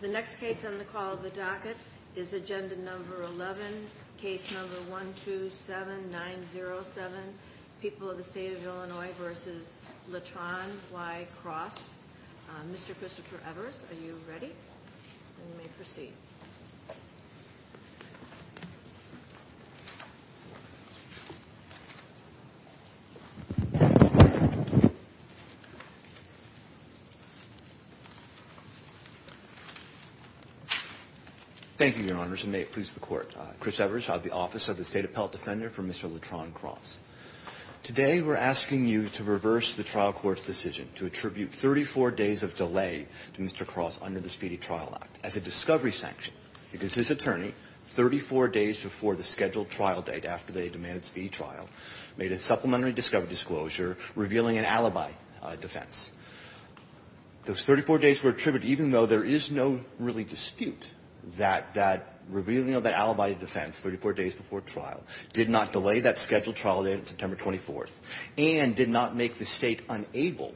The next case on the call of the docket is Agenda No. 11, Case No. 127907, People of the State of Illinois v. Latron v. Cross. Mr. Christopher Evers, are you ready? Then you may proceed. Thank you, Your Honors, and may it please the Court. Chris Evers of the Office of the State Appellate Defender for Mr. Latron Cross. Today we're asking you to reverse the trial court's decision to attribute 34 days of delay to Mr. Cross under the Speedy Trial Act as a discovery sanction because his attorney, 34 days before the scheduled trial date after they demanded speedy trial, made a supplementary discovery disclosure revealing an alibi defense. Those 34 days were attributed even though there is no really dispute that that revealing of that alibi defense 34 days before trial did not delay that scheduled trial date on September 24th and did not make the State unable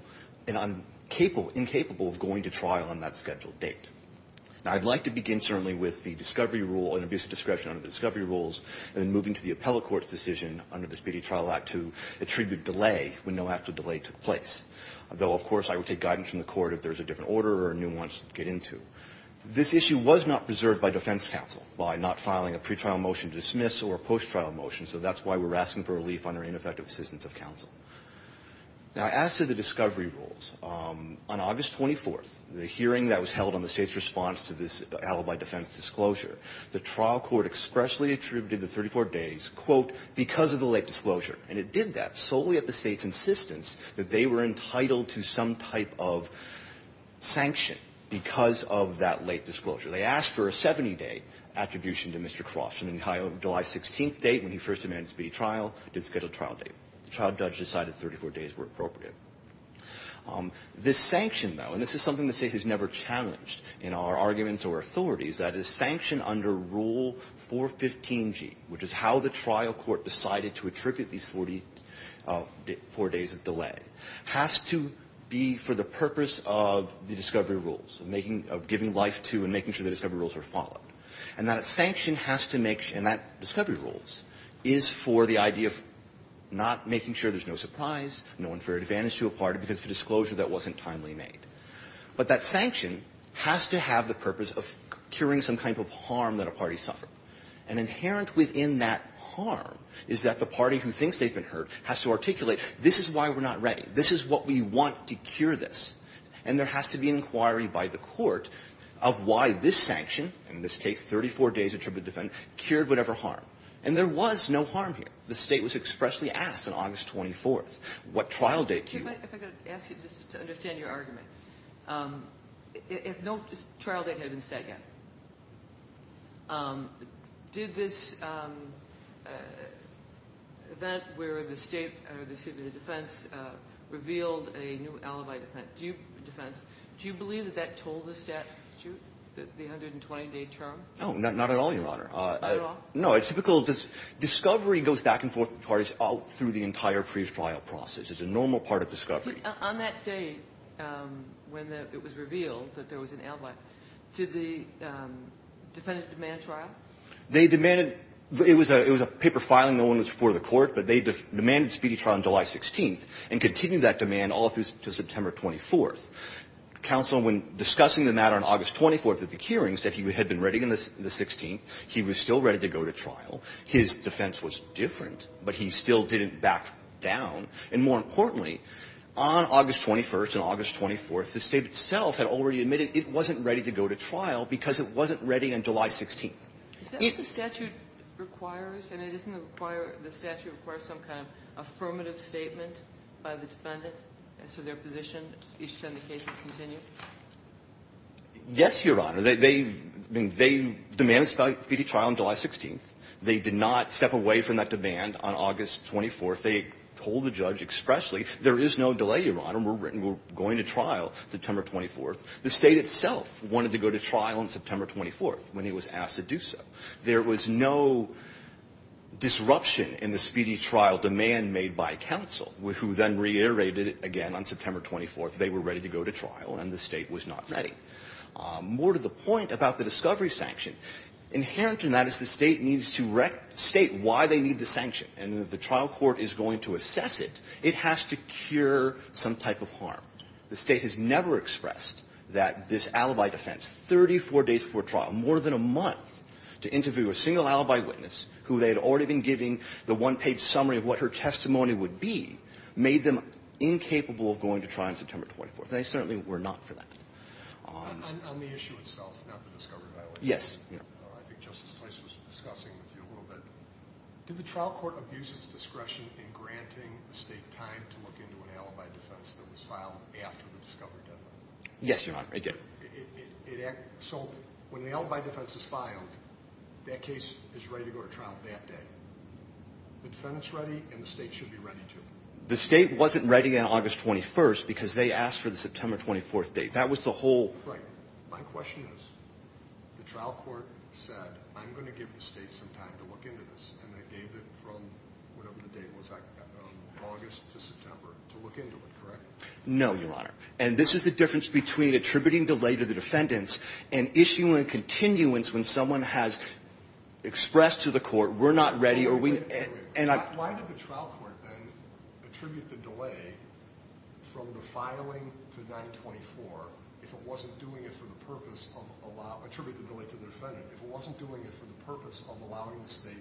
and incapable of going to trial on that scheduled date. Now, I'd like to begin certainly with the discovery rule and abuse of discretion under the discovery rules and then moving to the appellate court's decision under the Speedy Trial Act to attribute delay when no actual delay took place. Though, of course, I would take guidance from the Court if there's a different order or a new one to get into. This issue was not preserved by defense counsel by not filing a pretrial motion to dismiss or a post-trial motion, so that's why we're asking for relief under ineffective assistance of counsel. Now, as to the discovery rules, on August 24th, the hearing that was held on the State's response to this alibi defense disclosure, the trial court expressly attributed the 34 days, quote, because of the late disclosure. And it did that solely at the State's insistence that they were entitled to some type of sanction because of that late disclosure. They asked for a 70-day attribution to Mr. Croft. And the July 16th date when he first demanded speedy trial did schedule trial date. The trial judge decided 34 days were appropriate. This sanction, though, and this is something the State has never challenged in our arguments or authorities, that is, sanction under Rule 415G, which is how the trial court decided to attribute these 44 days of delay, has to be for the purpose of the discovery rules, of making of giving life to and making sure the discovery rules are followed. And that sanction has to make sure, and that discovery rules, is for the idea of not making sure there's no surprise, no unfair advantage to a party because of a disclosure that wasn't timely made. But that sanction has to have the purpose of curing some type of harm that a party suffered. And inherent within that harm is that the party who thinks they've been hurt has to articulate this is why we're not ready, this is what we want to cure this, and there has to be an inquiry by the court of why this sanction, in this case 34 days attributed to defend, cured whatever harm. And there was no harm here. If I could ask you just to understand your argument. If no trial date had been set yet, did this event where the State or the State defense revealed a new alibi defense, do you believe that that told the statute, the 120-day trial? No, not at all, Your Honor. Not at all? No. It's typical. Discovery goes back and forth with parties all through the entire pre-trial process. It's a normal part of discovery. On that date when it was revealed that there was an alibi, did the defendant demand trial? They demanded. It was a paper filing. No one was before the court. But they demanded speedy trial on July 16th and continued that demand all through September 24th. Counsel, when discussing the matter on August 24th at the hearings, said he had been ready on the 16th. He was still ready to go to trial. His defense was different, but he still didn't back down. And more importantly, on August 21st and August 24th, the State itself had already admitted it wasn't ready to go to trial because it wasn't ready on July 16th. Is that what the statute requires? I mean, doesn't it require the statute requires some kind of affirmative statement by the defendant as to their position, you should send the case and continue? Yes, Your Honor. They demanded speedy trial on July 16th. They did not step away from that demand on August 24th. They told the judge expressly, there is no delay, Your Honor. We're going to trial September 24th. The State itself wanted to go to trial on September 24th when he was asked to do so. There was no disruption in the speedy trial demand made by counsel, who then reiterated again on September 24th they were ready to go to trial and the State was not ready. More to the point about the discovery sanction. Inherent in that is the State needs to state why they need the sanction. And if the trial court is going to assess it, it has to cure some type of harm. The State has never expressed that this alibi defense, 34 days before trial, more than a month to interview a single alibi witness who they had already been giving the one-page summary of what her testimony would be, made them incapable of going to trial on September 24th, and they certainly were not for that. On the issue itself, not the discovery violation. Yes. I think Justice Place was discussing with you a little bit. Did the trial court abuse its discretion in granting the State time to look into an alibi defense that was filed after the discovery deadline? Yes, Your Honor, it did. So when the alibi defense is filed, that case is ready to go to trial that day. The defendant's ready and the State should be ready too. The State wasn't ready on August 21st because they asked for the September 24th date. That was the whole. Right. My question is, the trial court said, I'm going to give the State some time to look into this, and they gave it from whatever the date was, August to September, to look into it, correct? No, Your Honor. And this is the difference between attributing delay to the defendants and issuing continuance when someone has expressed to the court, we're not ready. Why did the trial court then attribute the delay from the filing to 924 if it wasn't doing it for the purpose of allowing, attribute the delay to the defendant, if it wasn't doing it for the purpose of allowing the State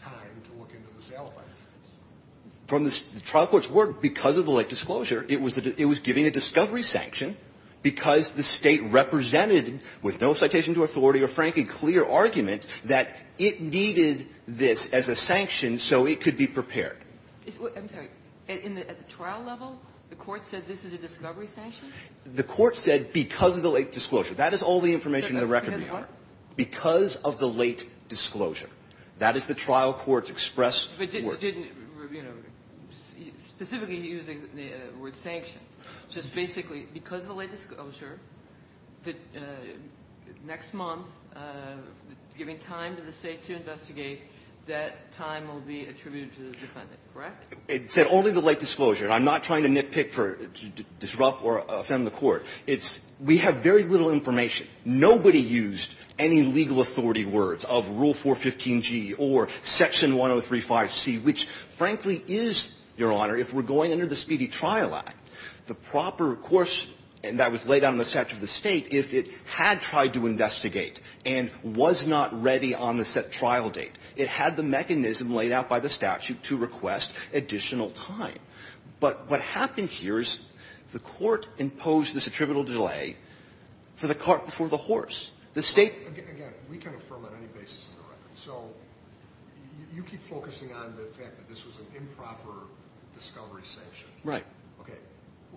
time to look into this alibi defense? From the trial court's word, because of the late disclosure, it was giving a discovery sanction because the State represented, with no citation to authority or frankly clear argument, that it needed this as a sanction so it could be prepared. I'm sorry. At the trial level, the court said this is a discovery sanction? The court said because of the late disclosure. That is all the information in the record, Your Honor. Because of the late disclosure. That is the trial court's expressed word. But it didn't, you know, specifically use the word sanction. So it's basically because of the late disclosure, next month, giving time to the State to investigate, that time will be attributed to the defendant, correct? It said only the late disclosure. I'm not trying to nitpick to disrupt or offend the court. It's we have very little information. Nobody used any legal authority words of Rule 415G or Section 1035C, which frankly is, Your Honor, if we're going under the Speedy Trial Act, the proper course that was laid out in the statute of the State, if it had tried to investigate and was not ready on the set trial date, it had the mechanism laid out by the statute to request additional time. But what happened here is the court imposed this attributable delay for the cart before the horse. The State --- Right. Okay.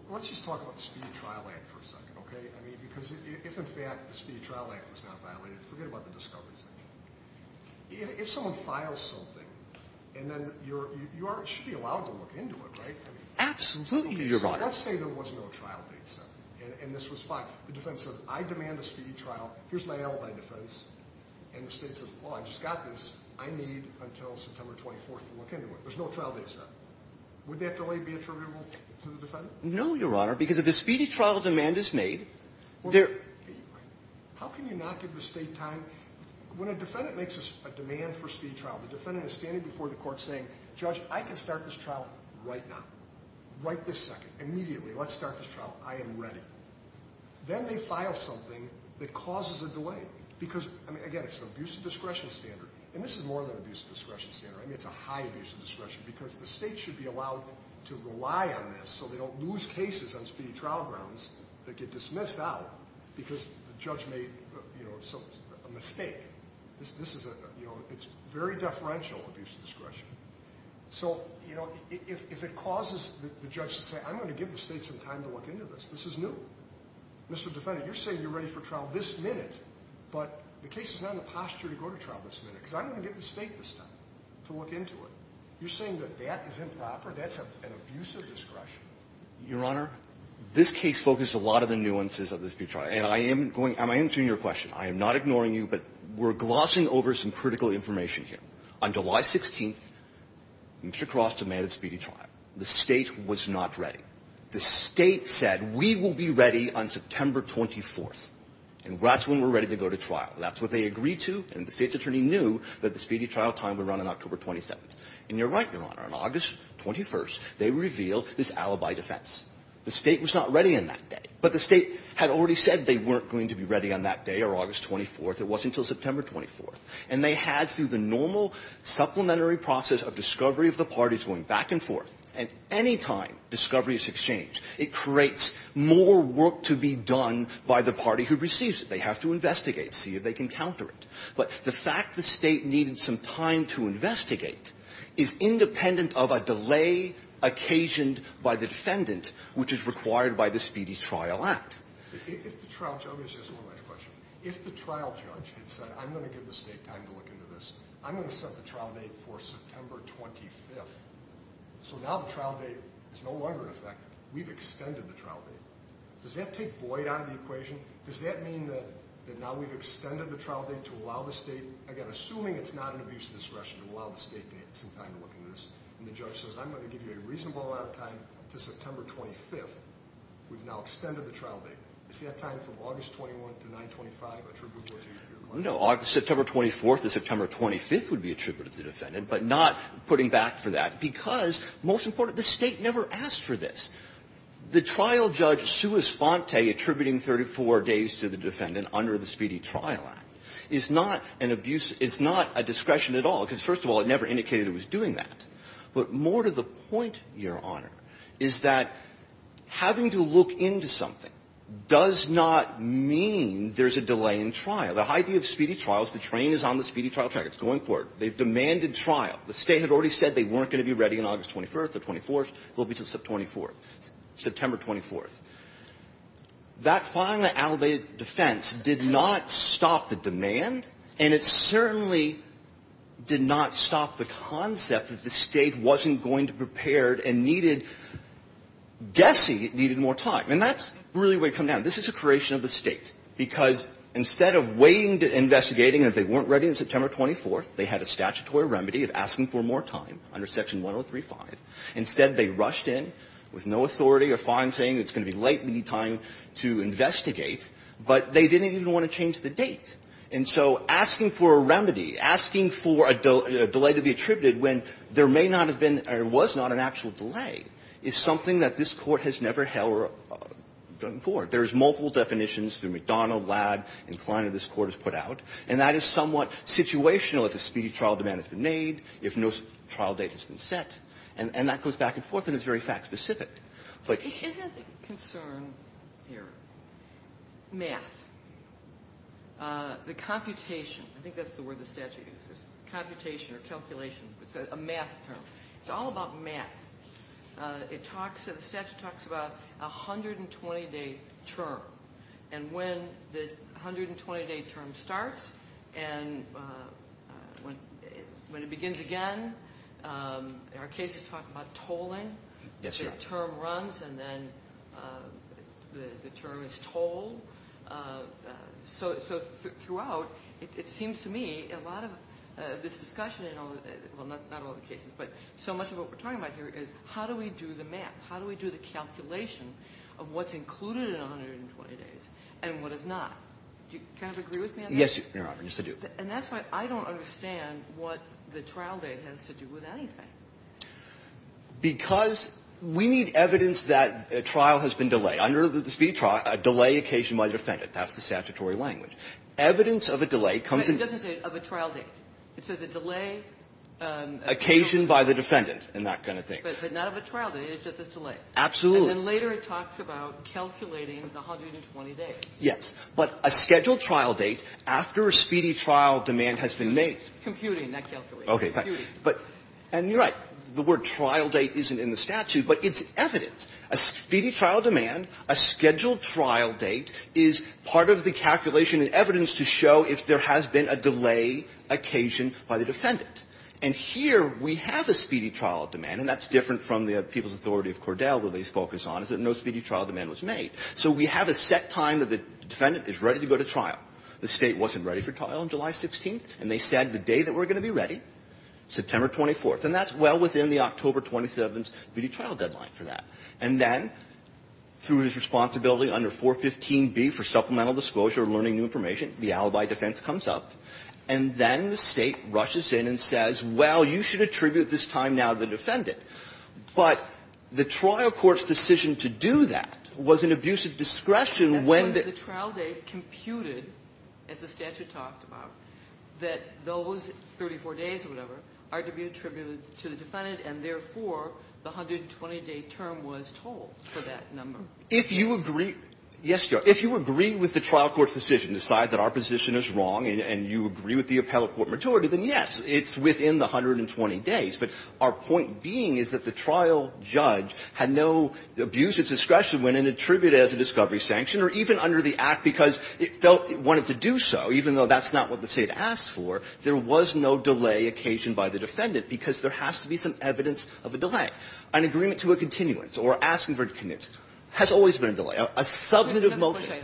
Let's just talk about the Speedy Trial Act for a second, okay? I mean, because if in fact the Speedy Trial Act was not violated, forget about the discovery sanction. If someone files something, and then you should be allowed to look into it, right? Absolutely, Your Honor. Let's say there was no trial date set, and this was fine. The defense says, I demand a speedy trial. Here's my alibi defense. And the State says, oh, I just got this. I need until September 24th to look into it. There's no trial date set. Would that delay be attributable to the defendant? No, Your Honor, because if the speedy trial demand is made, there --. Okay, you're right. How can you not give the State time? When a defendant makes a demand for speed trial, the defendant is standing before the court saying, Judge, I can start this trial right now, right this second, immediately. Let's start this trial. I am ready. Then they file something that causes a delay because, I mean, again, it's an abuse of discretion standard. And this is more than abuse of discretion standard. I mean, it's a high abuse of discretion because the State should be allowed to rely on this so they don't lose cases on speedy trial grounds that get dismissed out because the judge made a mistake. This is a, you know, it's very deferential abuse of discretion. So, you know, if it causes the judge to say, I'm going to give the State some time to look into this, this is new. Mr. Defendant, you're saying you're ready for trial this minute, but the case is not in the posture to go to trial this minute because I'm going to give the State some time to look into it. You're saying that that is improper? That's an abuse of discretion? Your Honor, this case focused a lot of the nuances of the speedy trial. And I am going to answer your question. I am not ignoring you, but we're glossing over some critical information here. On July 16th, Mr. Cross demanded speedy trial. The State was not ready. The State said, we will be ready on September 24th, and that's when we're ready to go to trial. That's what they agreed to, and the State's attorney knew that the speedy trial would run on October 27th. And you're right, Your Honor, on August 21st, they revealed this alibi defense. The State was not ready on that day, but the State had already said they weren't going to be ready on that day or August 24th. It wasn't until September 24th. And they had, through the normal supplementary process of discovery of the parties going back and forth, and any time discovery is exchanged, it creates more work to be done by the party who receives it. They have to investigate, see if they can counter it. But the fact the State needed some time to investigate is independent of a delay occasioned by the defendant, which is required by the Speedy Trial Act. If the trial judge had said, I'm going to give the State time to look into this. I'm going to set the trial date for September 25th. So now the trial date is no longer in effect. We've extended the trial date. Does that take void out of the equation? Does that mean that now we've extended the trial date to allow the State, again, assuming it's not an abuse of discretion, to allow the State to have some time to look into this? And the judge says, I'm going to give you a reasonable amount of time until September 25th. We've now extended the trial date. Is that time from August 21st to 925 attributable to your client? No. September 24th to September 25th would be attributable to the defendant, but not putting back for that because, most important, the State never asked for this. The trial judge sua sponte attributing 34 days to the defendant under the Speedy Trial Act is not an abuse, is not a discretion at all, because, first of all, it never indicated it was doing that. But more to the point, Your Honor, is that having to look into something does not mean there's a delay in trial. The idea of speedy trials, the train is on the speedy trial track. It's going for it. They've demanded trial. The State had already said they weren't going to be ready on August 21st or 24th. They'll be until September 24th. That finally elevated defense did not stop the demand, and it certainly did not stop the concept that the State wasn't going to prepare and needed, guessing it needed more time. And that's really where you come down. This is a creation of the State, because instead of waiting to investigate and if they weren't ready on September 24th, they had a statutory remedy of asking for more time under Section 103.5. Instead, they rushed in with no authority or fine saying it's going to be late, we need time to investigate, but they didn't even want to change the date. And so asking for a remedy, asking for a delay to be attributed when there may not have been or was not an actual delay is something that this Court has never held or done before. There's multiple definitions through McDonnell, Ladd, and Kleiner this Court has put out, and that is somewhat situational if a speedy trial demand has been made, if no delay has been made. And that goes back and forth, and it's very fact-specific. But isn't the concern here math, the computation? I think that's the word the statute uses, computation or calculation. It's a math term. It's all about math. It talks, the statute talks about a 120-day term, and when the 120-day term starts and when it begins again, there are cases talking about tolling. The term runs, and then the term is tolled. So throughout, it seems to me a lot of this discussion, well, not all the cases, but so much of what we're talking about here is how do we do the math? How do we do the calculation of what's included in 120 days and what is not? Do you kind of agree with me on that? Yes, Your Honor. Yes, I do. And that's why I don't understand what the trial date has to do with anything. Because we need evidence that a trial has been delayed. Under the speedy trial, a delay occasioned by the defendant. That's the statutory language. Evidence of a delay comes in. But it doesn't say of a trial date. It says a delay occasioned by the defendant and that kind of thing. But not of a trial date. It's just a delay. Absolutely. And then later it talks about calculating the 120 days. Yes. But a scheduled trial date after a speedy trial demand has been made. Computing, not calculating. Okay. Computing. And you're right. The word trial date isn't in the statute, but it's evidence. A speedy trial demand, a scheduled trial date is part of the calculation and evidence to show if there has been a delay occasioned by the defendant. And here we have a speedy trial demand, and that's different from the People's Authority of Cordell, where they focus on, is that no speedy trial demand was made. So we have a set time that the defendant is ready to go to trial. The State wasn't ready for trial on July 16th, and they said the day that we're going to be ready, September 24th, and that's well within the October 27th speedy trial deadline for that. And then, through his responsibility under 415B for supplemental disclosure of learning new information, the alibi defense comes up, and then the State rushes in and says, well, you should attribute this time now to the defendant. But the trial court's decision to do that was an abuse of discretion when the ---- Ginsburg. The trial date computed, as the statute talked about, that those 34 days or whatever are to be attributed to the defendant, and therefore, the 120-day term was told for that number. If you agree ---- yes, Your Honor. If you agree with the trial court's decision, decide that our position is wrong, and you agree with the appellate court majority, then yes, it's within the 120 days. But our point being is that the trial judge had no abuse of discretion when it attributed it as a discovery sanction, or even under the Act, because it felt it wanted to do so, even though that's not what the State asked for, there was no delay occasioned by the defendant, because there has to be some evidence of a delay. An agreement to a continuance or asking for a continuance has always been a delay, a substantive motion. Kagan.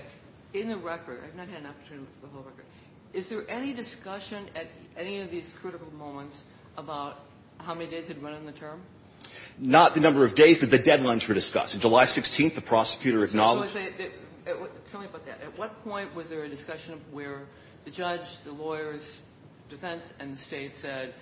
In the record, I've not had an opportunity to look at the whole record. Is there any discussion at any of these critical moments about how many days had run on the term? Not the number of days, but the deadlines for discussion. July 16th, the prosecutor acknowledged ---- Tell me about that. At what point was there a discussion where the judge, the lawyers, defense, and the State said,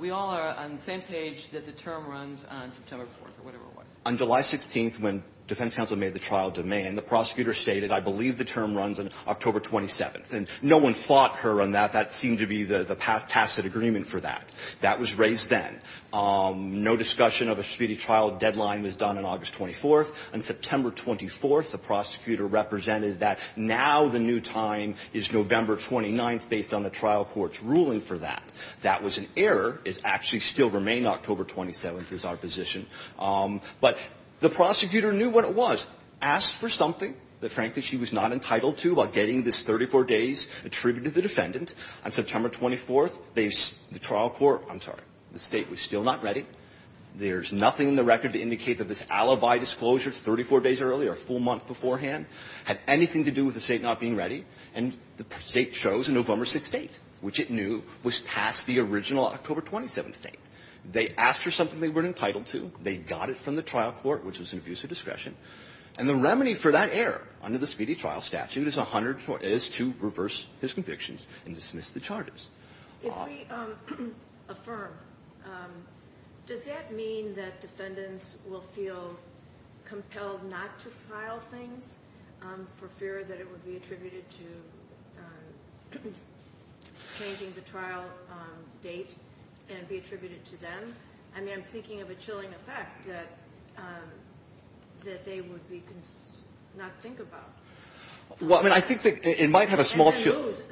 we all are on the same page that the term runs on September 4th, or whatever it was? On July 16th, when defense counsel made the trial demand, the prosecutor stated, I believe the term runs on October 27th. And no one fought her on that. That seemed to be the tacit agreement for that. That was raised then. No discussion of a speedy trial deadline was done on August 24th. On September 24th, the prosecutor represented that now the new time is November 29th, based on the trial court's ruling for that. That was an error. It actually still remained October 27th is our position. But the prosecutor knew what it was. Asked for something that, frankly, she was not entitled to by getting this 34 days attributed to the defendant. On September 24th, they ---- the trial court, I'm sorry, the State was still not ready. There's nothing in the record to indicate that this alibi disclosure 34 days earlier, a full month beforehand, had anything to do with the State not being ready. And the State chose a November 6th date, which it knew was past the original October 27th date. They asked for something they weren't entitled to. They got it from the trial court, which was an abuse of discretion. And the remedy for that error under the speedy trial statute is to reverse his convictions and dismiss the charges. If we affirm, does that mean that defendants will feel compelled not to file things for fear that it would be attributed to changing the trial date and be attributed to them? I mean, I'm thinking of a chilling effect that they would be not think about. Well, I mean, I think that it might have a small ----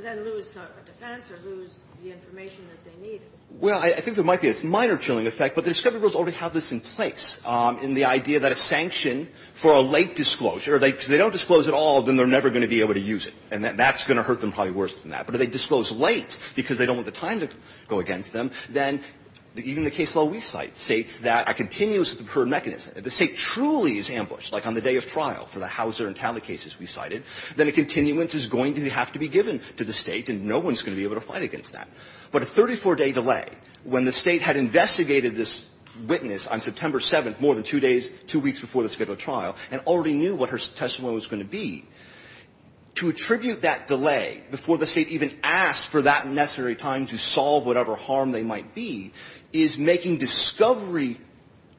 Then lose the defense or lose the information that they need. Well, I think there might be a minor chilling effect, but the discovery rules already have this in place in the idea that a sanction for a late disclosure, if they don't disclose it all, then they're never going to be able to use it. And that's going to hurt them probably worse than that. But if they disclose late because they don't want the time to go against them, then even the case law we cite states that a continuous recurrent mechanism, if the State truly is ambushed, like on the day of trial for the Hauser and Talley cases we cited, then a continuance is going to have to be given to the State and no one's going to be able to fight against that. But a 34-day delay, when the State had investigated this witness on September 7th, more than two days, two weeks before the scheduled trial, and already knew what her testimony was going to be, to attribute that delay before the State even asked for that necessary time to solve whatever harm they might be is making discovery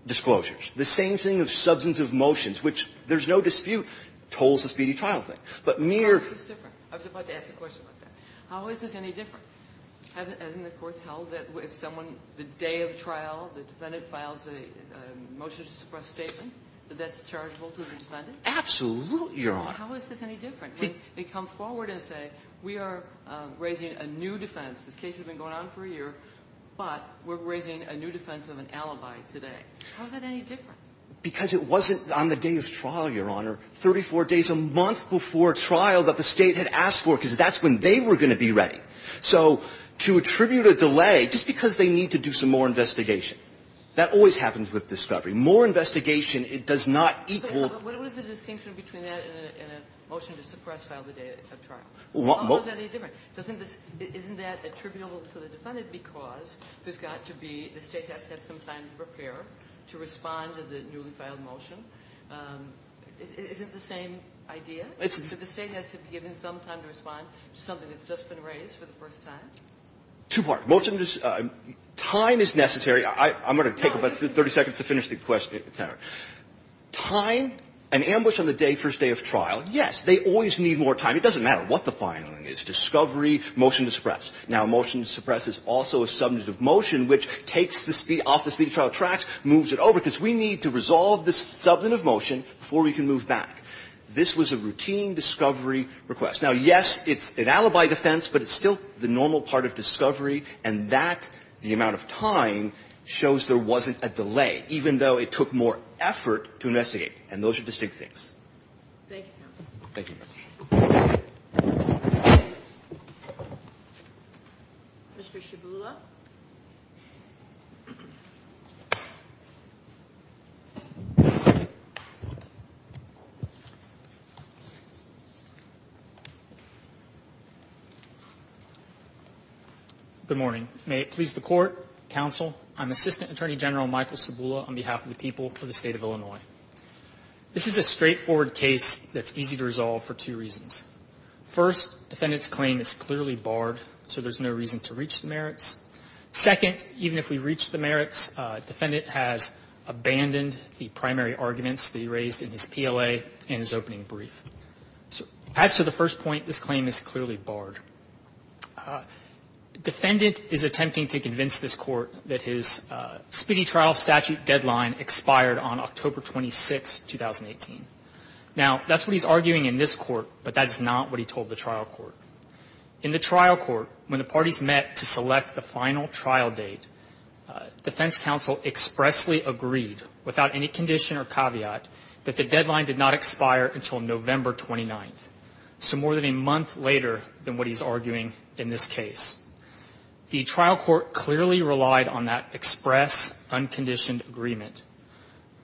disclosures. The same thing of substantive motions, which there's no dispute, tolls the speedy trial thing. But mere ---- Kagan. I was about to ask a question about that. How is this any different? Hasn't the courts held that if someone, the day of trial, the defendant files a motion to suppress statement, that that's chargeable to the defendant? Absolutely, Your Honor. How is this any different? They come forward and say, we are raising a new defense. This case has been going on for a year. But we're raising a new defense of an alibi today. How is that any different? Because it wasn't on the day of trial, Your Honor, 34 days, a month before trial that the State had asked for, because that's when they were going to be ready. So to attribute a delay, just because they need to do some more investigation, that always happens with discovery. More investigation, it does not equal ---- But what is the distinction between that and a motion to suppress file the day of trial? How is that any different? Doesn't this ---- isn't that attributable to the defendant because there's got to be ---- the State has to have some time to prepare to respond to the newly filed motion? Isn't the same idea? The State has to be given some time to respond to something that's just been raised for the first time? Too hard. Most of them just ---- time is necessary. I'm going to take about 30 seconds to finish the question. Time, an ambush on the day, first day of trial, yes, they always need more time. It doesn't matter what the filing is. Discovery, motion to suppress. Now, a motion to suppress is also a subject of motion which takes the speed off the speed of trial tracks, moves it over, because we need to resolve this subject of motion before we can move back. This was a routine discovery request. Now, yes, it's an alibi defense, but it's still the normal part of discovery, and that, the amount of time, shows there wasn't a delay, even though it took more effort to investigate, and those are distinct things. Thank you, counsel. Thank you. Mr. Shabula. Good morning. May it please the Court, counsel, I'm Assistant Attorney General Michael Shabula on behalf of the people of the State of Illinois. This is a straightforward case that's easy to resolve for two reasons. First, defendant's claim is clearly barred, so there's no reason to reach the merits. Second, even if we reach the merits, defendant has abandoned the primary arguments that he raised in his PLA and his opening brief. As to the first point, this claim is clearly barred. Defendant is attempting to convince this Court that his speedy trial statute deadline expired on October 26, 2018. Now, that's what he's arguing in this court, but that is not what he told the trial court. In the trial court, when the parties met to select the final trial date, defense counsel expressly agreed, without any condition or caveat, that the deadline did not expire until November 29th, so more than a month later than what he's arguing in this case. The trial court clearly relied on that express, unconditioned agreement.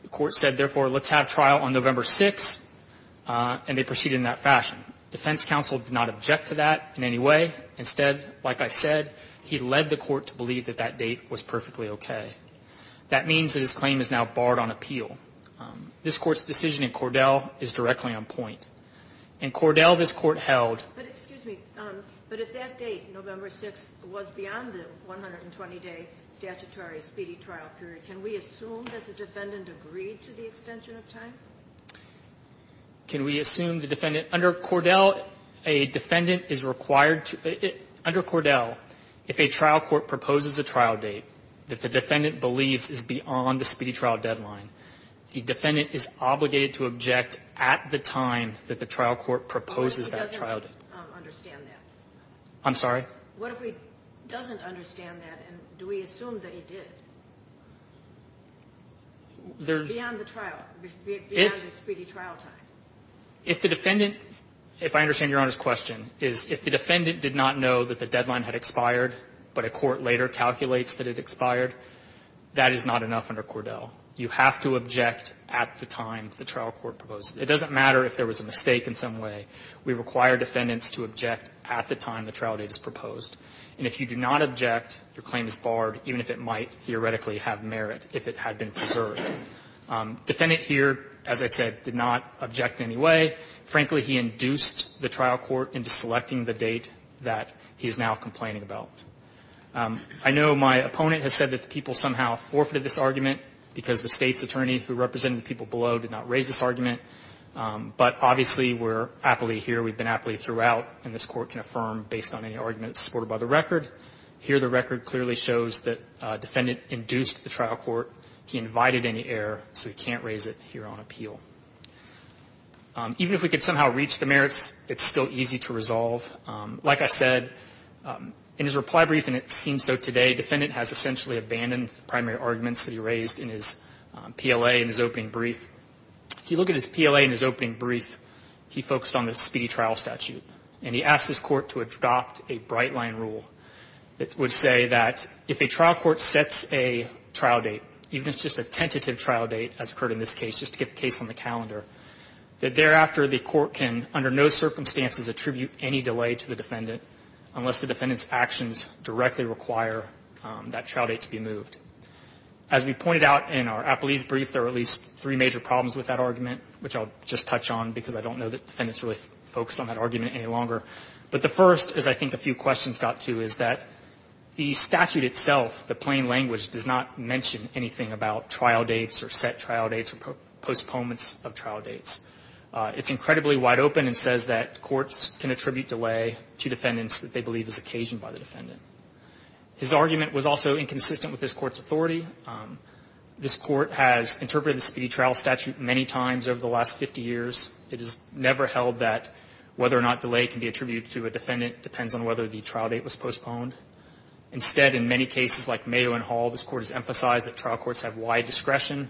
The court said, therefore, let's have trial on November 6th, and they proceeded in that fashion. Defense counsel did not object to that in any way. Instead, like I said, he led the court to believe that that date was perfectly okay. That means that his claim is now barred on appeal. This Court's decision in Cordell is directly on point. In Cordell, this Court held Excuse me. But if that date, November 6th, was beyond the 120-day statutory speedy trial period, can we assume that the defendant agreed to the extension of time? Can we assume the defendant? Under Cordell, a defendant is required to – under Cordell, if a trial court proposes a trial date that the defendant believes is beyond the speedy trial deadline, the defendant is obligated to object at the time that the trial court proposes that trial date. He doesn't understand that. I'm sorry? What if he doesn't understand that, and do we assume that he did? Beyond the trial – beyond the speedy trial time. If the defendant – if I understand Your Honor's question, is if the defendant did not know that the deadline had expired, but a court later calculates that it expired, that is not enough under Cordell. You have to object at the time the trial court proposes it. It doesn't matter if there was a mistake in some way. We require defendants to object at the time the trial date is proposed. And if you do not object, your claim is barred, even if it might theoretically have merit, if it had been preserved. Defendant here, as I said, did not object in any way. Frankly, he induced the trial court into selecting the date that he is now complaining about. I know my opponent has said that the people somehow forfeited this argument because the State's attorney who represented the people below did not raise this aptly here. We've been aptly throughout, and this Court can affirm based on any argument supported by the record. Here, the record clearly shows that defendant induced the trial court. He invited any error, so he can't raise it here on appeal. Even if we could somehow reach the merits, it's still easy to resolve. Like I said, in his reply brief, and it seems so today, defendant has essentially abandoned the primary arguments that he raised in his PLA in his opening brief. If you look at his PLA in his opening brief, he focused on the speedy trial statute, and he asked his court to adopt a bright-line rule that would say that if a trial court sets a trial date, even if it's just a tentative trial date, as occurred in this case, just to get the case on the calendar, that thereafter the court can, under no circumstances, attribute any delay to the defendant unless the defendant's actions directly require that trial date to be moved. As we pointed out in our Appelese brief, there are at least three major problems with that argument, which I'll just touch on because I don't know that defendants really focused on that argument any longer. But the first, as I think a few questions got to, is that the statute itself, the plain language, does not mention anything about trial dates or set trial dates or postponements of trial dates. It's incredibly wide open and says that courts can attribute delay to defendants that they believe is occasioned by the defendant. His argument was also inconsistent with this Court's authority. This Court has interpreted the Speedy Trial Statute many times over the last 50 years. It has never held that whether or not delay can be attributed to a defendant depends on whether the trial date was postponed. Instead, in many cases like Mado and Hall, this Court has emphasized that trial courts have wide discretion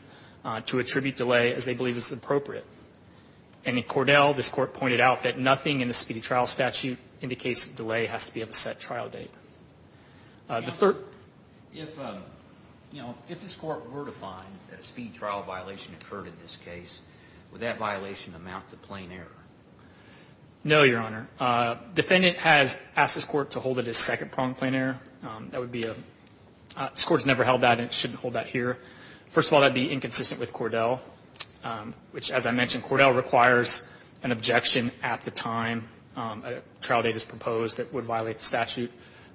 to attribute delay as they believe is appropriate. And in Cordell, this Court pointed out that nothing in the Speedy Trial Statute indicates that delay has to be of a set trial date. If this Court were to find that a speed trial violation occurred in this case, would that violation amount to plain error? No, Your Honor. Defendant has asked this Court to hold it as second-pronged plain error. This Court has never held that and it shouldn't hold that here. First of all, that would be inconsistent with Cordell, which, as I mentioned,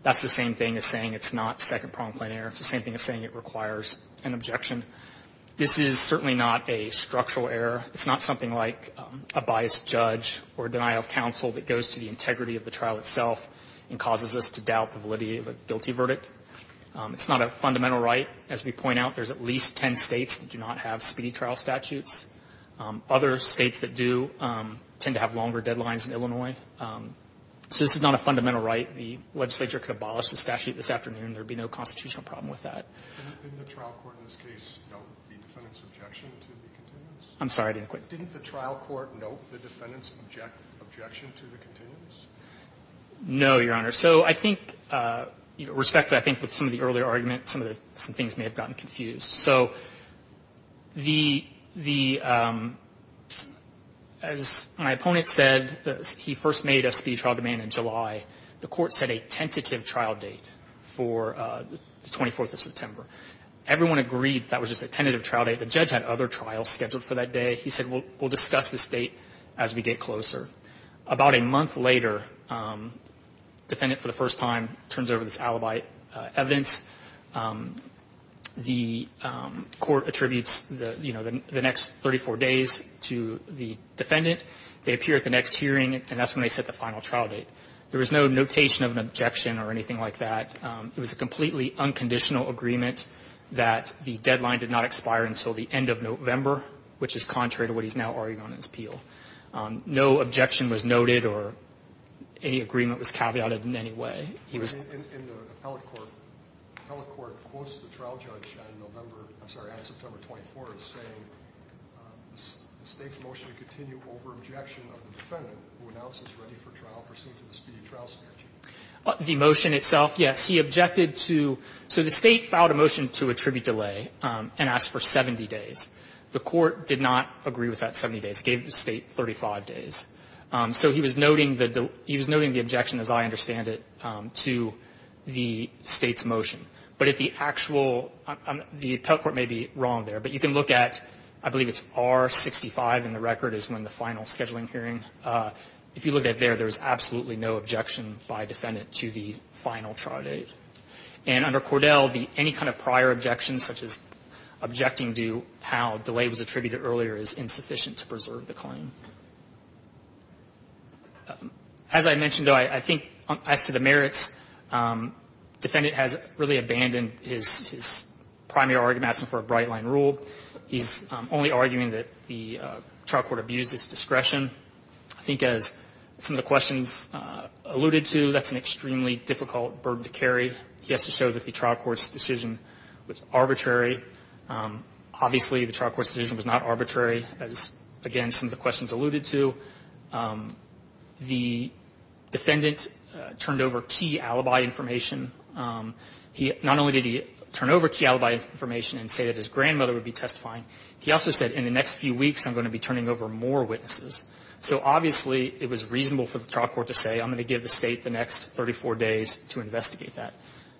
that's the same thing as saying it's not second-pronged plain error. It's the same thing as saying it requires an objection. This is certainly not a structural error. It's not something like a biased judge or a denial of counsel that goes to the integrity of the trial itself and causes us to doubt the validity of a guilty verdict. It's not a fundamental right. As we point out, there's at least ten states that do not have Speedy Trial Statutes. Other states that do tend to have longer deadlines in Illinois. So this is not a fundamental right. The legislature could abolish the statute this afternoon. There would be no constitutional problem with that. Didn't the trial court in this case note the defendant's objection to the continuance? I'm sorry. Didn't the trial court note the defendant's objection to the continuance? No, Your Honor. So I think, respectfully, I think with some of the earlier arguments, some things may have gotten confused. So the, as my opponent said, he first made us the trial demand in July. The court set a tentative trial date for the 24th of September. Everyone agreed that was just a tentative trial date. The judge had other trials scheduled for that day. He said, we'll discuss this date as we get closer. About a month later, the defendant for the first time turns over this alibi evidence. The court attributes, you know, the next 34 days to the defendant. They appear at the next hearing, and that's when they set the final trial date. There was no notation of an objection or anything like that. It was a completely unconditional agreement that the deadline did not expire until the end of November, which is contrary to what he's now arguing on his appeal. No objection was noted or any agreement was caveated in any way. He was. In the appellate court, the appellate court quotes the trial judge on November, I'm sorry, on September 24 as saying the State's motion to continue over objection of the defendant who announces ready for trial pursuant to the speedy trial statute. The motion itself, yes. He objected to. So the State filed a motion to attribute delay and asked for 70 days. The court did not agree with that 70 days. It gave the State 35 days. So he was noting the objection, as I understand it, to the State's motion. But if the actual, the appellate court may be wrong there, but you can look at, I believe it's R65 in the record is when the final scheduling hearing. If you look at it there, there's absolutely no objection by defendant to the final trial date. And under Cordell, any kind of prior objections, such as objecting to how delay was attributed earlier is insufficient to preserve the claim. As I mentioned, though, I think as to the merits, defendant has really abandoned his primary argument asking for a bright line rule. He's only arguing that the trial court abused his discretion. I think as some of the questions alluded to, that's an extremely difficult burden to carry. He has to show that the trial court's decision was arbitrary. Obviously, the trial court's decision was not arbitrary, as, again, some of the questions alluded to. The defendant turned over key alibi information. Not only did he turn over key alibi information and say that his grandmother would be testifying, he also said, in the next few weeks, I'm going to be turning over more witnesses. So obviously, it was reasonable for the trial court to say, I'm going to give the State the next 34 days to investigate that.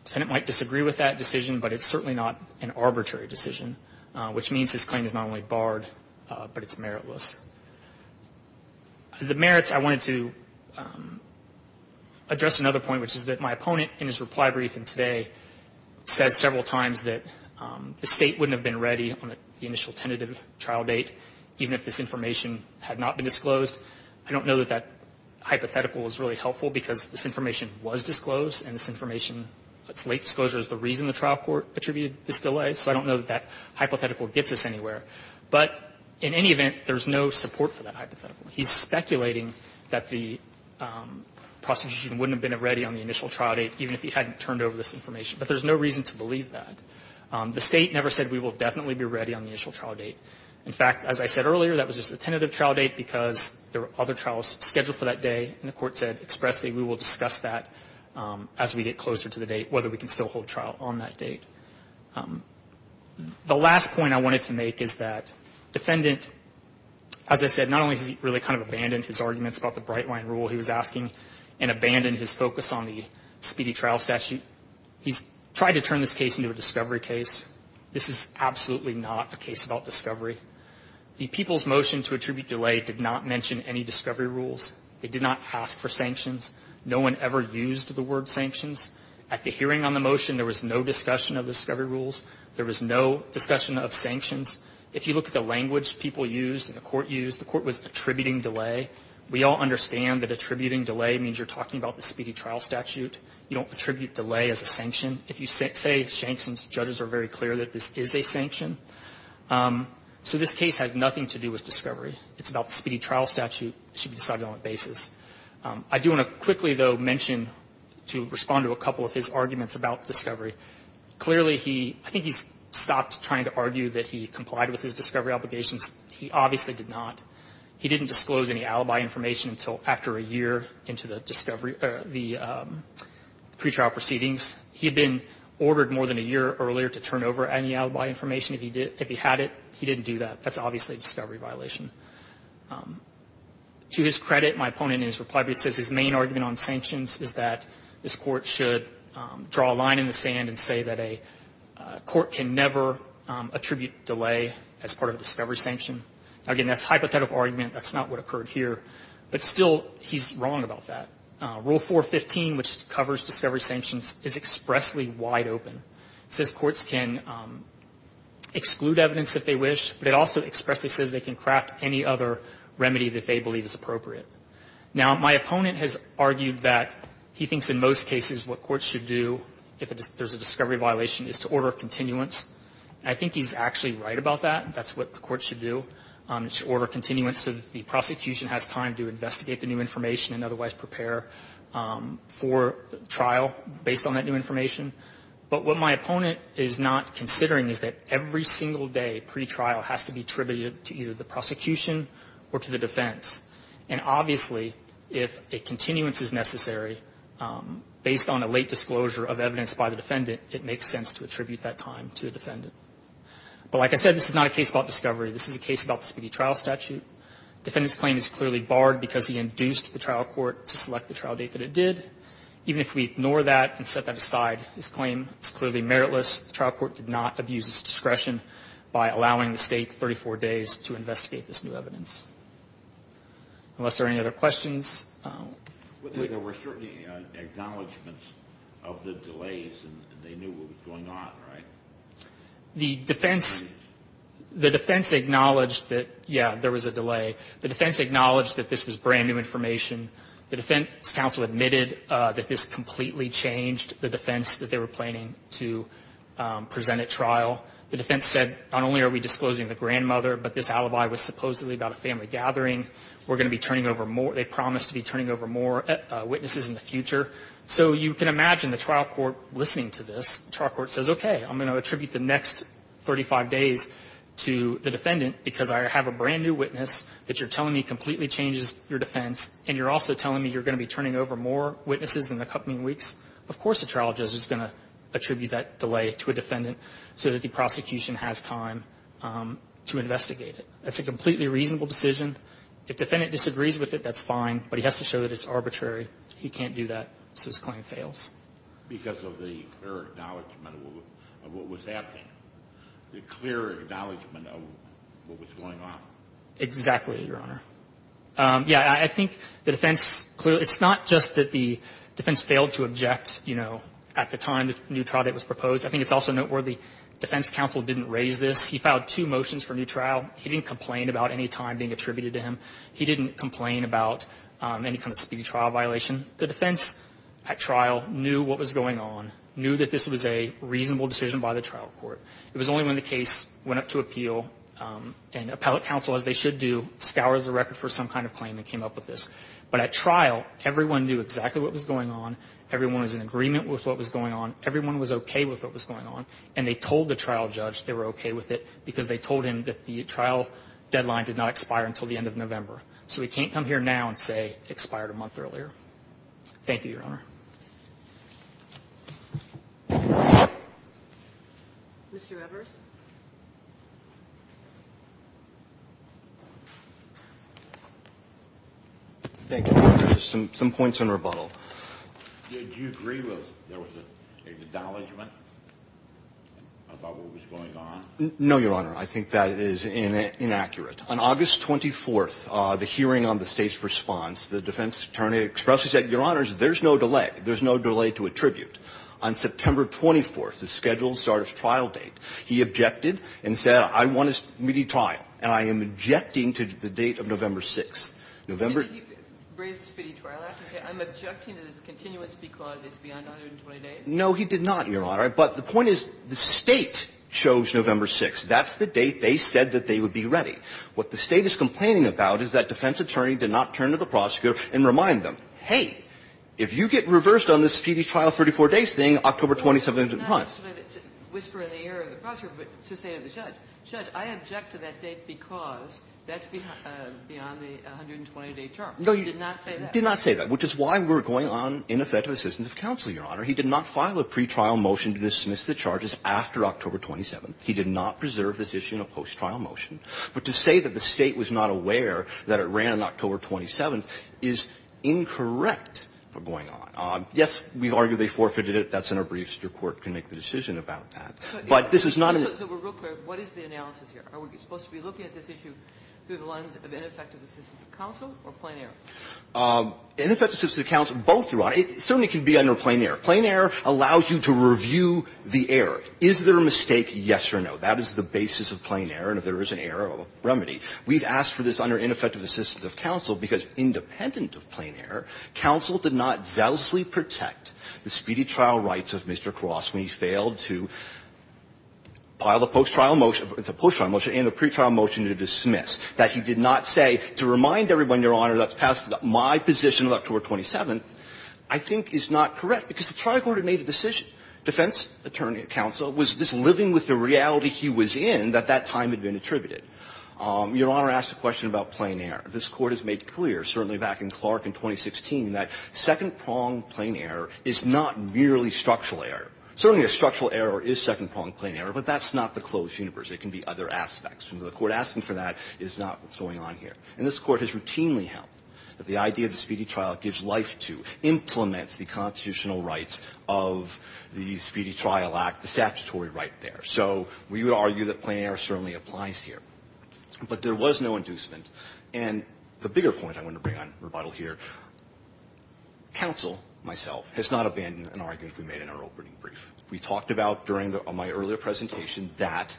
Defendant might disagree with that decision, but it's certainly not an arbitrary decision, which means his claim is not only barred, but it's meritless. The merits, I wanted to address another point, which is that my opponent, in his reply brief in today, says several times that the State wouldn't have been ready on the initial tentative trial date, even if this information had not been disclosed. I don't know that that hypothetical is really helpful, because this information was disclosed, and this information, its late disclosure, is the reason the trial court attributed this delay. So I don't know that that hypothetical gets us anywhere. But in any event, there's no support for that hypothetical. He's speculating that the prosecution wouldn't have been ready on the initial trial date, even if he hadn't turned over this information. But there's no reason to believe that. The State never said we will definitely be ready on the initial trial date. In fact, as I said earlier, that was just the tentative trial date, because there were other trials scheduled for that day, and the Court said expressly we will discuss that as we get closer to the date, whether we can still hold trial on that date. The last point I wanted to make is that defendant, as I said, not only has he really kind of abandoned his arguments about the Bright Line Rule he was asking and abandoned his focus on the speedy trial statute, he's tried to turn this case into a discovery case. This is absolutely not a case about discovery. The people's motion to attribute delay did not mention any discovery rules. They did not ask for sanctions. No one ever used the word sanctions. At the hearing on the motion, there was no discussion of discovery rules. There was no discussion of sanctions. If you look at the language people used and the Court used, the Court was attributing delay. We all understand that attributing delay means you're talking about the speedy trial statute. You don't attribute delay as a sanction. If you say sanctions, judges are very clear that this is a sanction. So this case has nothing to do with discovery. It's about the speedy trial statute. It should be decided on a basis. I do want to quickly, though, mention to respond to a couple of his arguments about discovery. Clearly, I think he's stopped trying to argue that he complied with his discovery obligations. He obviously did not. He didn't disclose any alibi information until after a year into the pretrial proceedings. He had been ordered more than a year earlier to turn over any alibi information. If he had it, he didn't do that. That's obviously a discovery violation. To his credit, my opponent in his reply brief says his main argument on sanctions is that this Court should draw a line in the sand and say that a court can never attribute delay as part of a discovery sanction. Again, that's a hypothetical argument. That's not what occurred here. But still, he's wrong about that. Rule 415, which covers discovery sanctions, is expressly wide open. It says courts can exclude evidence if they wish, but it also expressly says they can craft any other remedy that they believe is appropriate. Now, my opponent has argued that he thinks in most cases what courts should do if there's a discovery violation is to order continuance. I think he's actually right about that. That's what the courts should do. It should order continuance so that the prosecution has time to investigate the new information and otherwise prepare for trial based on that new information. But what my opponent is not considering is that every single day pre-trial has to be attributed to either the prosecution or to the defense. And obviously, if a continuance is necessary, based on a late disclosure of evidence by the defendant, it makes sense to attribute that time to the defendant. But like I said, this is not a case about discovery. This is a case about the speedy trial statute. Defendant's claim is clearly barred because he induced the trial court to select the trial date that it did. Even if we ignore that and set that aside, his claim is clearly meritless. The trial court did not abuse its discretion by allowing the State 34 days to investigate this new evidence. Unless there are any other questions. There were certainly acknowledgments of the delays, and they knew what was going on, right? The defense acknowledged that, yeah, there was a delay. The defense acknowledged that this was brand new information. The defense counsel admitted that this completely changed the defense that they were planning to present at trial. The defense said, not only are we disclosing the grandmother, but this alibi was supposedly about a family gathering. We're going to be turning over more. They promised to be turning over more witnesses in the future. So you can imagine the trial court listening to this. The trial court says, okay, I'm going to attribute the next 35 days to the defendant because I have a brand new witness that you're telling me completely changes your defense, and you're also telling me you're going to be turning over more witnesses in the coming weeks. Of course the trial judge is going to attribute that delay to a defendant so that the prosecution has time to investigate it. That's a completely reasonable decision. If the defendant disagrees with it, that's fine, but he has to show that it's arbitrary. He can't do that, so his claim fails. I think the defense, clearly, it's not just that the defense failed to object, you know, at the time the new trial date was proposed. I think it's also noteworthy the defense counsel didn't raise this. He filed two motions for a new trial. He didn't complain about any time being attributed to him. He didn't complain about any kind of speedy trial violation. He didn't complain about any kind of speedy trial violation. knew that this was a reasonable decision by the trial court. It was only when the case went up to appeal and appellate counsel, as they should do, scours the record for some kind of claim and came up with this. But at trial, everyone knew exactly what was going on. Everyone was in agreement with what was going on. Everyone was okay with what was going on, and they told the trial judge they were okay with it because they told him that the trial deadline did not expire until the end of November. So he can't come here now and say it expired a month earlier. Thank you, Your Honor. Mr. Evers? Thank you, Your Honor. Some points in rebuttal. Did you agree that there was an acknowledgment about what was going on? No, Your Honor. I think that is inaccurate. On August 24th, the hearing on the state's response, the defense attorney expressed that, Your Honors, there's no delay. There's no delay to attribute. On September 24th, the scheduled start of trial date, he objected and said, I want a speedy trial, and I am objecting to the date of November 6th. November — Didn't he raise the speedy trial? I have to say, I'm objecting to this continuance because it's beyond 120 days. No, he did not, Your Honor. But the point is the State chose November 6th. That's the date they said that they would be ready. What the State is complaining about is that defense attorney did not turn to the prosecutor and remind them, hey, if you get reversed on this speedy trial 34 days thing, October 27th is the time. Not to whisper in the ear of the prosecutor, but to say to the judge, judge, I object to that date because that's beyond the 120-day term. He did not say that. No, he did not say that, which is why we're going on ineffective assistance of counsel, Your Honor. He did not file a pretrial motion to dismiss the charges after October 27th. He did not preserve this issue in a post-trial motion. But to say that the State was not aware that it ran on October 27th is incorrect for going on. Yes, we've argued they forfeited it. That's in our briefs. Your court can make the decision about that. But this is not an issue. So we're real clear. What is the analysis here? Are we supposed to be looking at this issue through the lens of ineffective assistance of counsel or plain error? Ineffective assistance of counsel, both, Your Honor. It certainly can be under plain error. Plain error allows you to review the error. Is there a mistake? Yes or no. That is the basis of plain error. And if there is an error, a remedy. We've asked for this under ineffective assistance of counsel because independent of plain error, counsel did not zealously protect the speedy trial rights of Mr. Cross when he failed to file the post-trial motion, the post-trial motion and the pretrial motion to dismiss, that he did not say, to remind everyone, Your Honor, that's passed my position on October 27th, I think is not correct. Because the trial court had made a decision. Defense counsel was just living with the reality he was in that that time had been attributed. Your Honor asked a question about plain error. This Court has made clear, certainly back in Clark in 2016, that second-prong plain error is not merely structural error. Certainly a structural error is second-prong plain error, but that's not the closed universe. It can be other aspects. The Court asking for that is not what's going on here. And this Court has routinely held that the idea of the speedy trial gives life to, implements the constitutional rights of the Speedy Trial Act, the statutory right there. So we would argue that plain error certainly applies here. But there was no inducement. And the bigger point I want to bring on rebuttal here, counsel, myself, has not abandoned an argument we made in our opening brief. We talked about during my earlier presentation that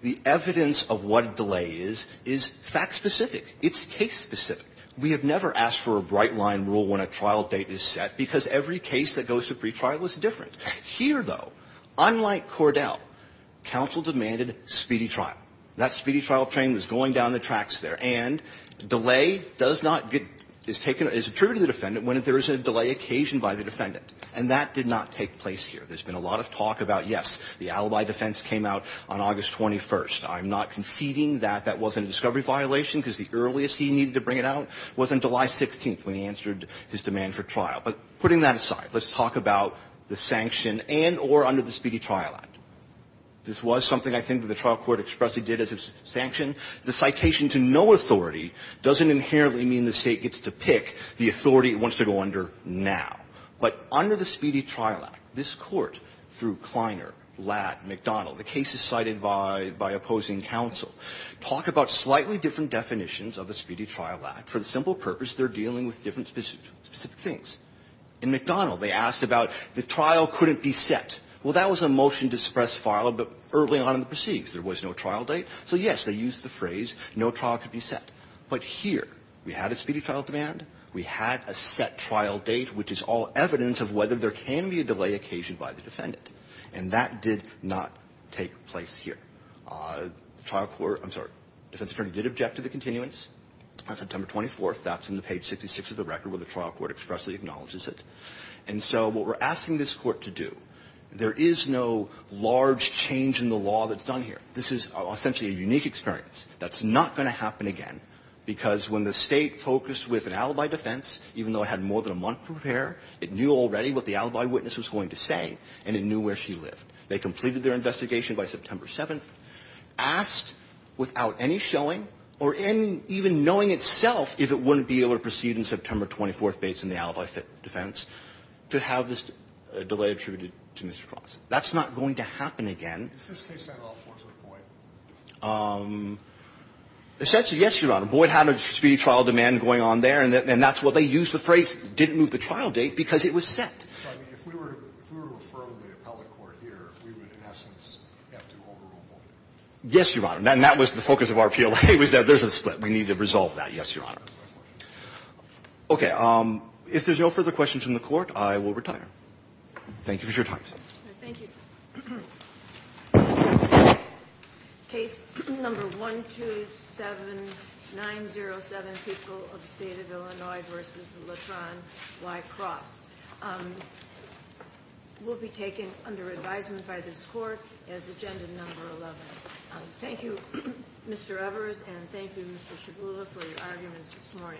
the evidence of what a delay is, is fact-specific. It's case-specific. We have never asked for a bright-line rule when a trial date is set because every case that goes to pretrial is different. Here, though, unlike Cordell, counsel demanded speedy trial. That speedy trial train was going down the tracks there. And delay does not get – is taken – is attributed to the defendant when there is a delay occasioned by the defendant. And that did not take place here. There's been a lot of talk about, yes, the alibi defense came out on August 21st. I'm not conceding that that wasn't a discovery violation because the earliest he needed to bring it out was on July 16th when he answered his demand for trial. But putting that aside, let's talk about the sanction and or under the Speedy Trial Act. This was something I think that the trial court expressly did as a sanction. The citation to no authority doesn't inherently mean the State gets to pick the authority it wants to go under now. But under the Speedy Trial Act, this Court, through Kleiner, Latt, McDonnell, the cases cited by opposing counsel, talk about slightly different definitions of the Speedy Trial Act. For the simple purpose, they're dealing with different specific things. In McDonnell, they asked about the trial couldn't be set. Well, that was a motion to suppress file early on in the proceedings. There was no trial date. So, yes, they used the phrase no trial could be set. But here, we had a Speedy Trial demand, we had a set trial date, which is all evidence of whether there can be a delay occasioned by the defendant. And that did not take place here. The trial court, I'm sorry, defense attorney did object to the continuance on September 24th. That's in the page 66 of the record where the trial court expressly acknowledges it. And so what we're asking this Court to do, there is no large change in the law that's done here. This is essentially a unique experience. That's not going to happen again, because when the State focused with an alibi defense, even though it had more than a month to prepare, it knew already what the alibi witness was going to say, and it knew where she lived. They completed their investigation by September 7th, asked without any showing or even knowing itself if it wouldn't be able to proceed in September 24th based on the alibi defense to have this delay attributed to Mr. Cross. That's not going to happen again. Is this case not all fours with Boyd? Essentially, yes, Your Honor. Boyd had a Speedy Trial demand going on there, and that's why they used the phrase didn't move the trial date, because it was set. If we were to affirm the appellate court here, we would, in essence, have to overrule Boyd. Yes, Your Honor. And that was the focus of our PLA. We said there's a split. We need to resolve that. Yes, Your Honor. Okay. If there's no further questions from the Court, I will retire. Thank you for your time. Thank you, sir. Case number 127907, People of the State of Illinois v. Latron, Y. Cross. Will be taken under advisement by this Court as Agenda Number 11. Thank you, Mr. Evers, and thank you, Mr. Shagula, for your arguments this morning.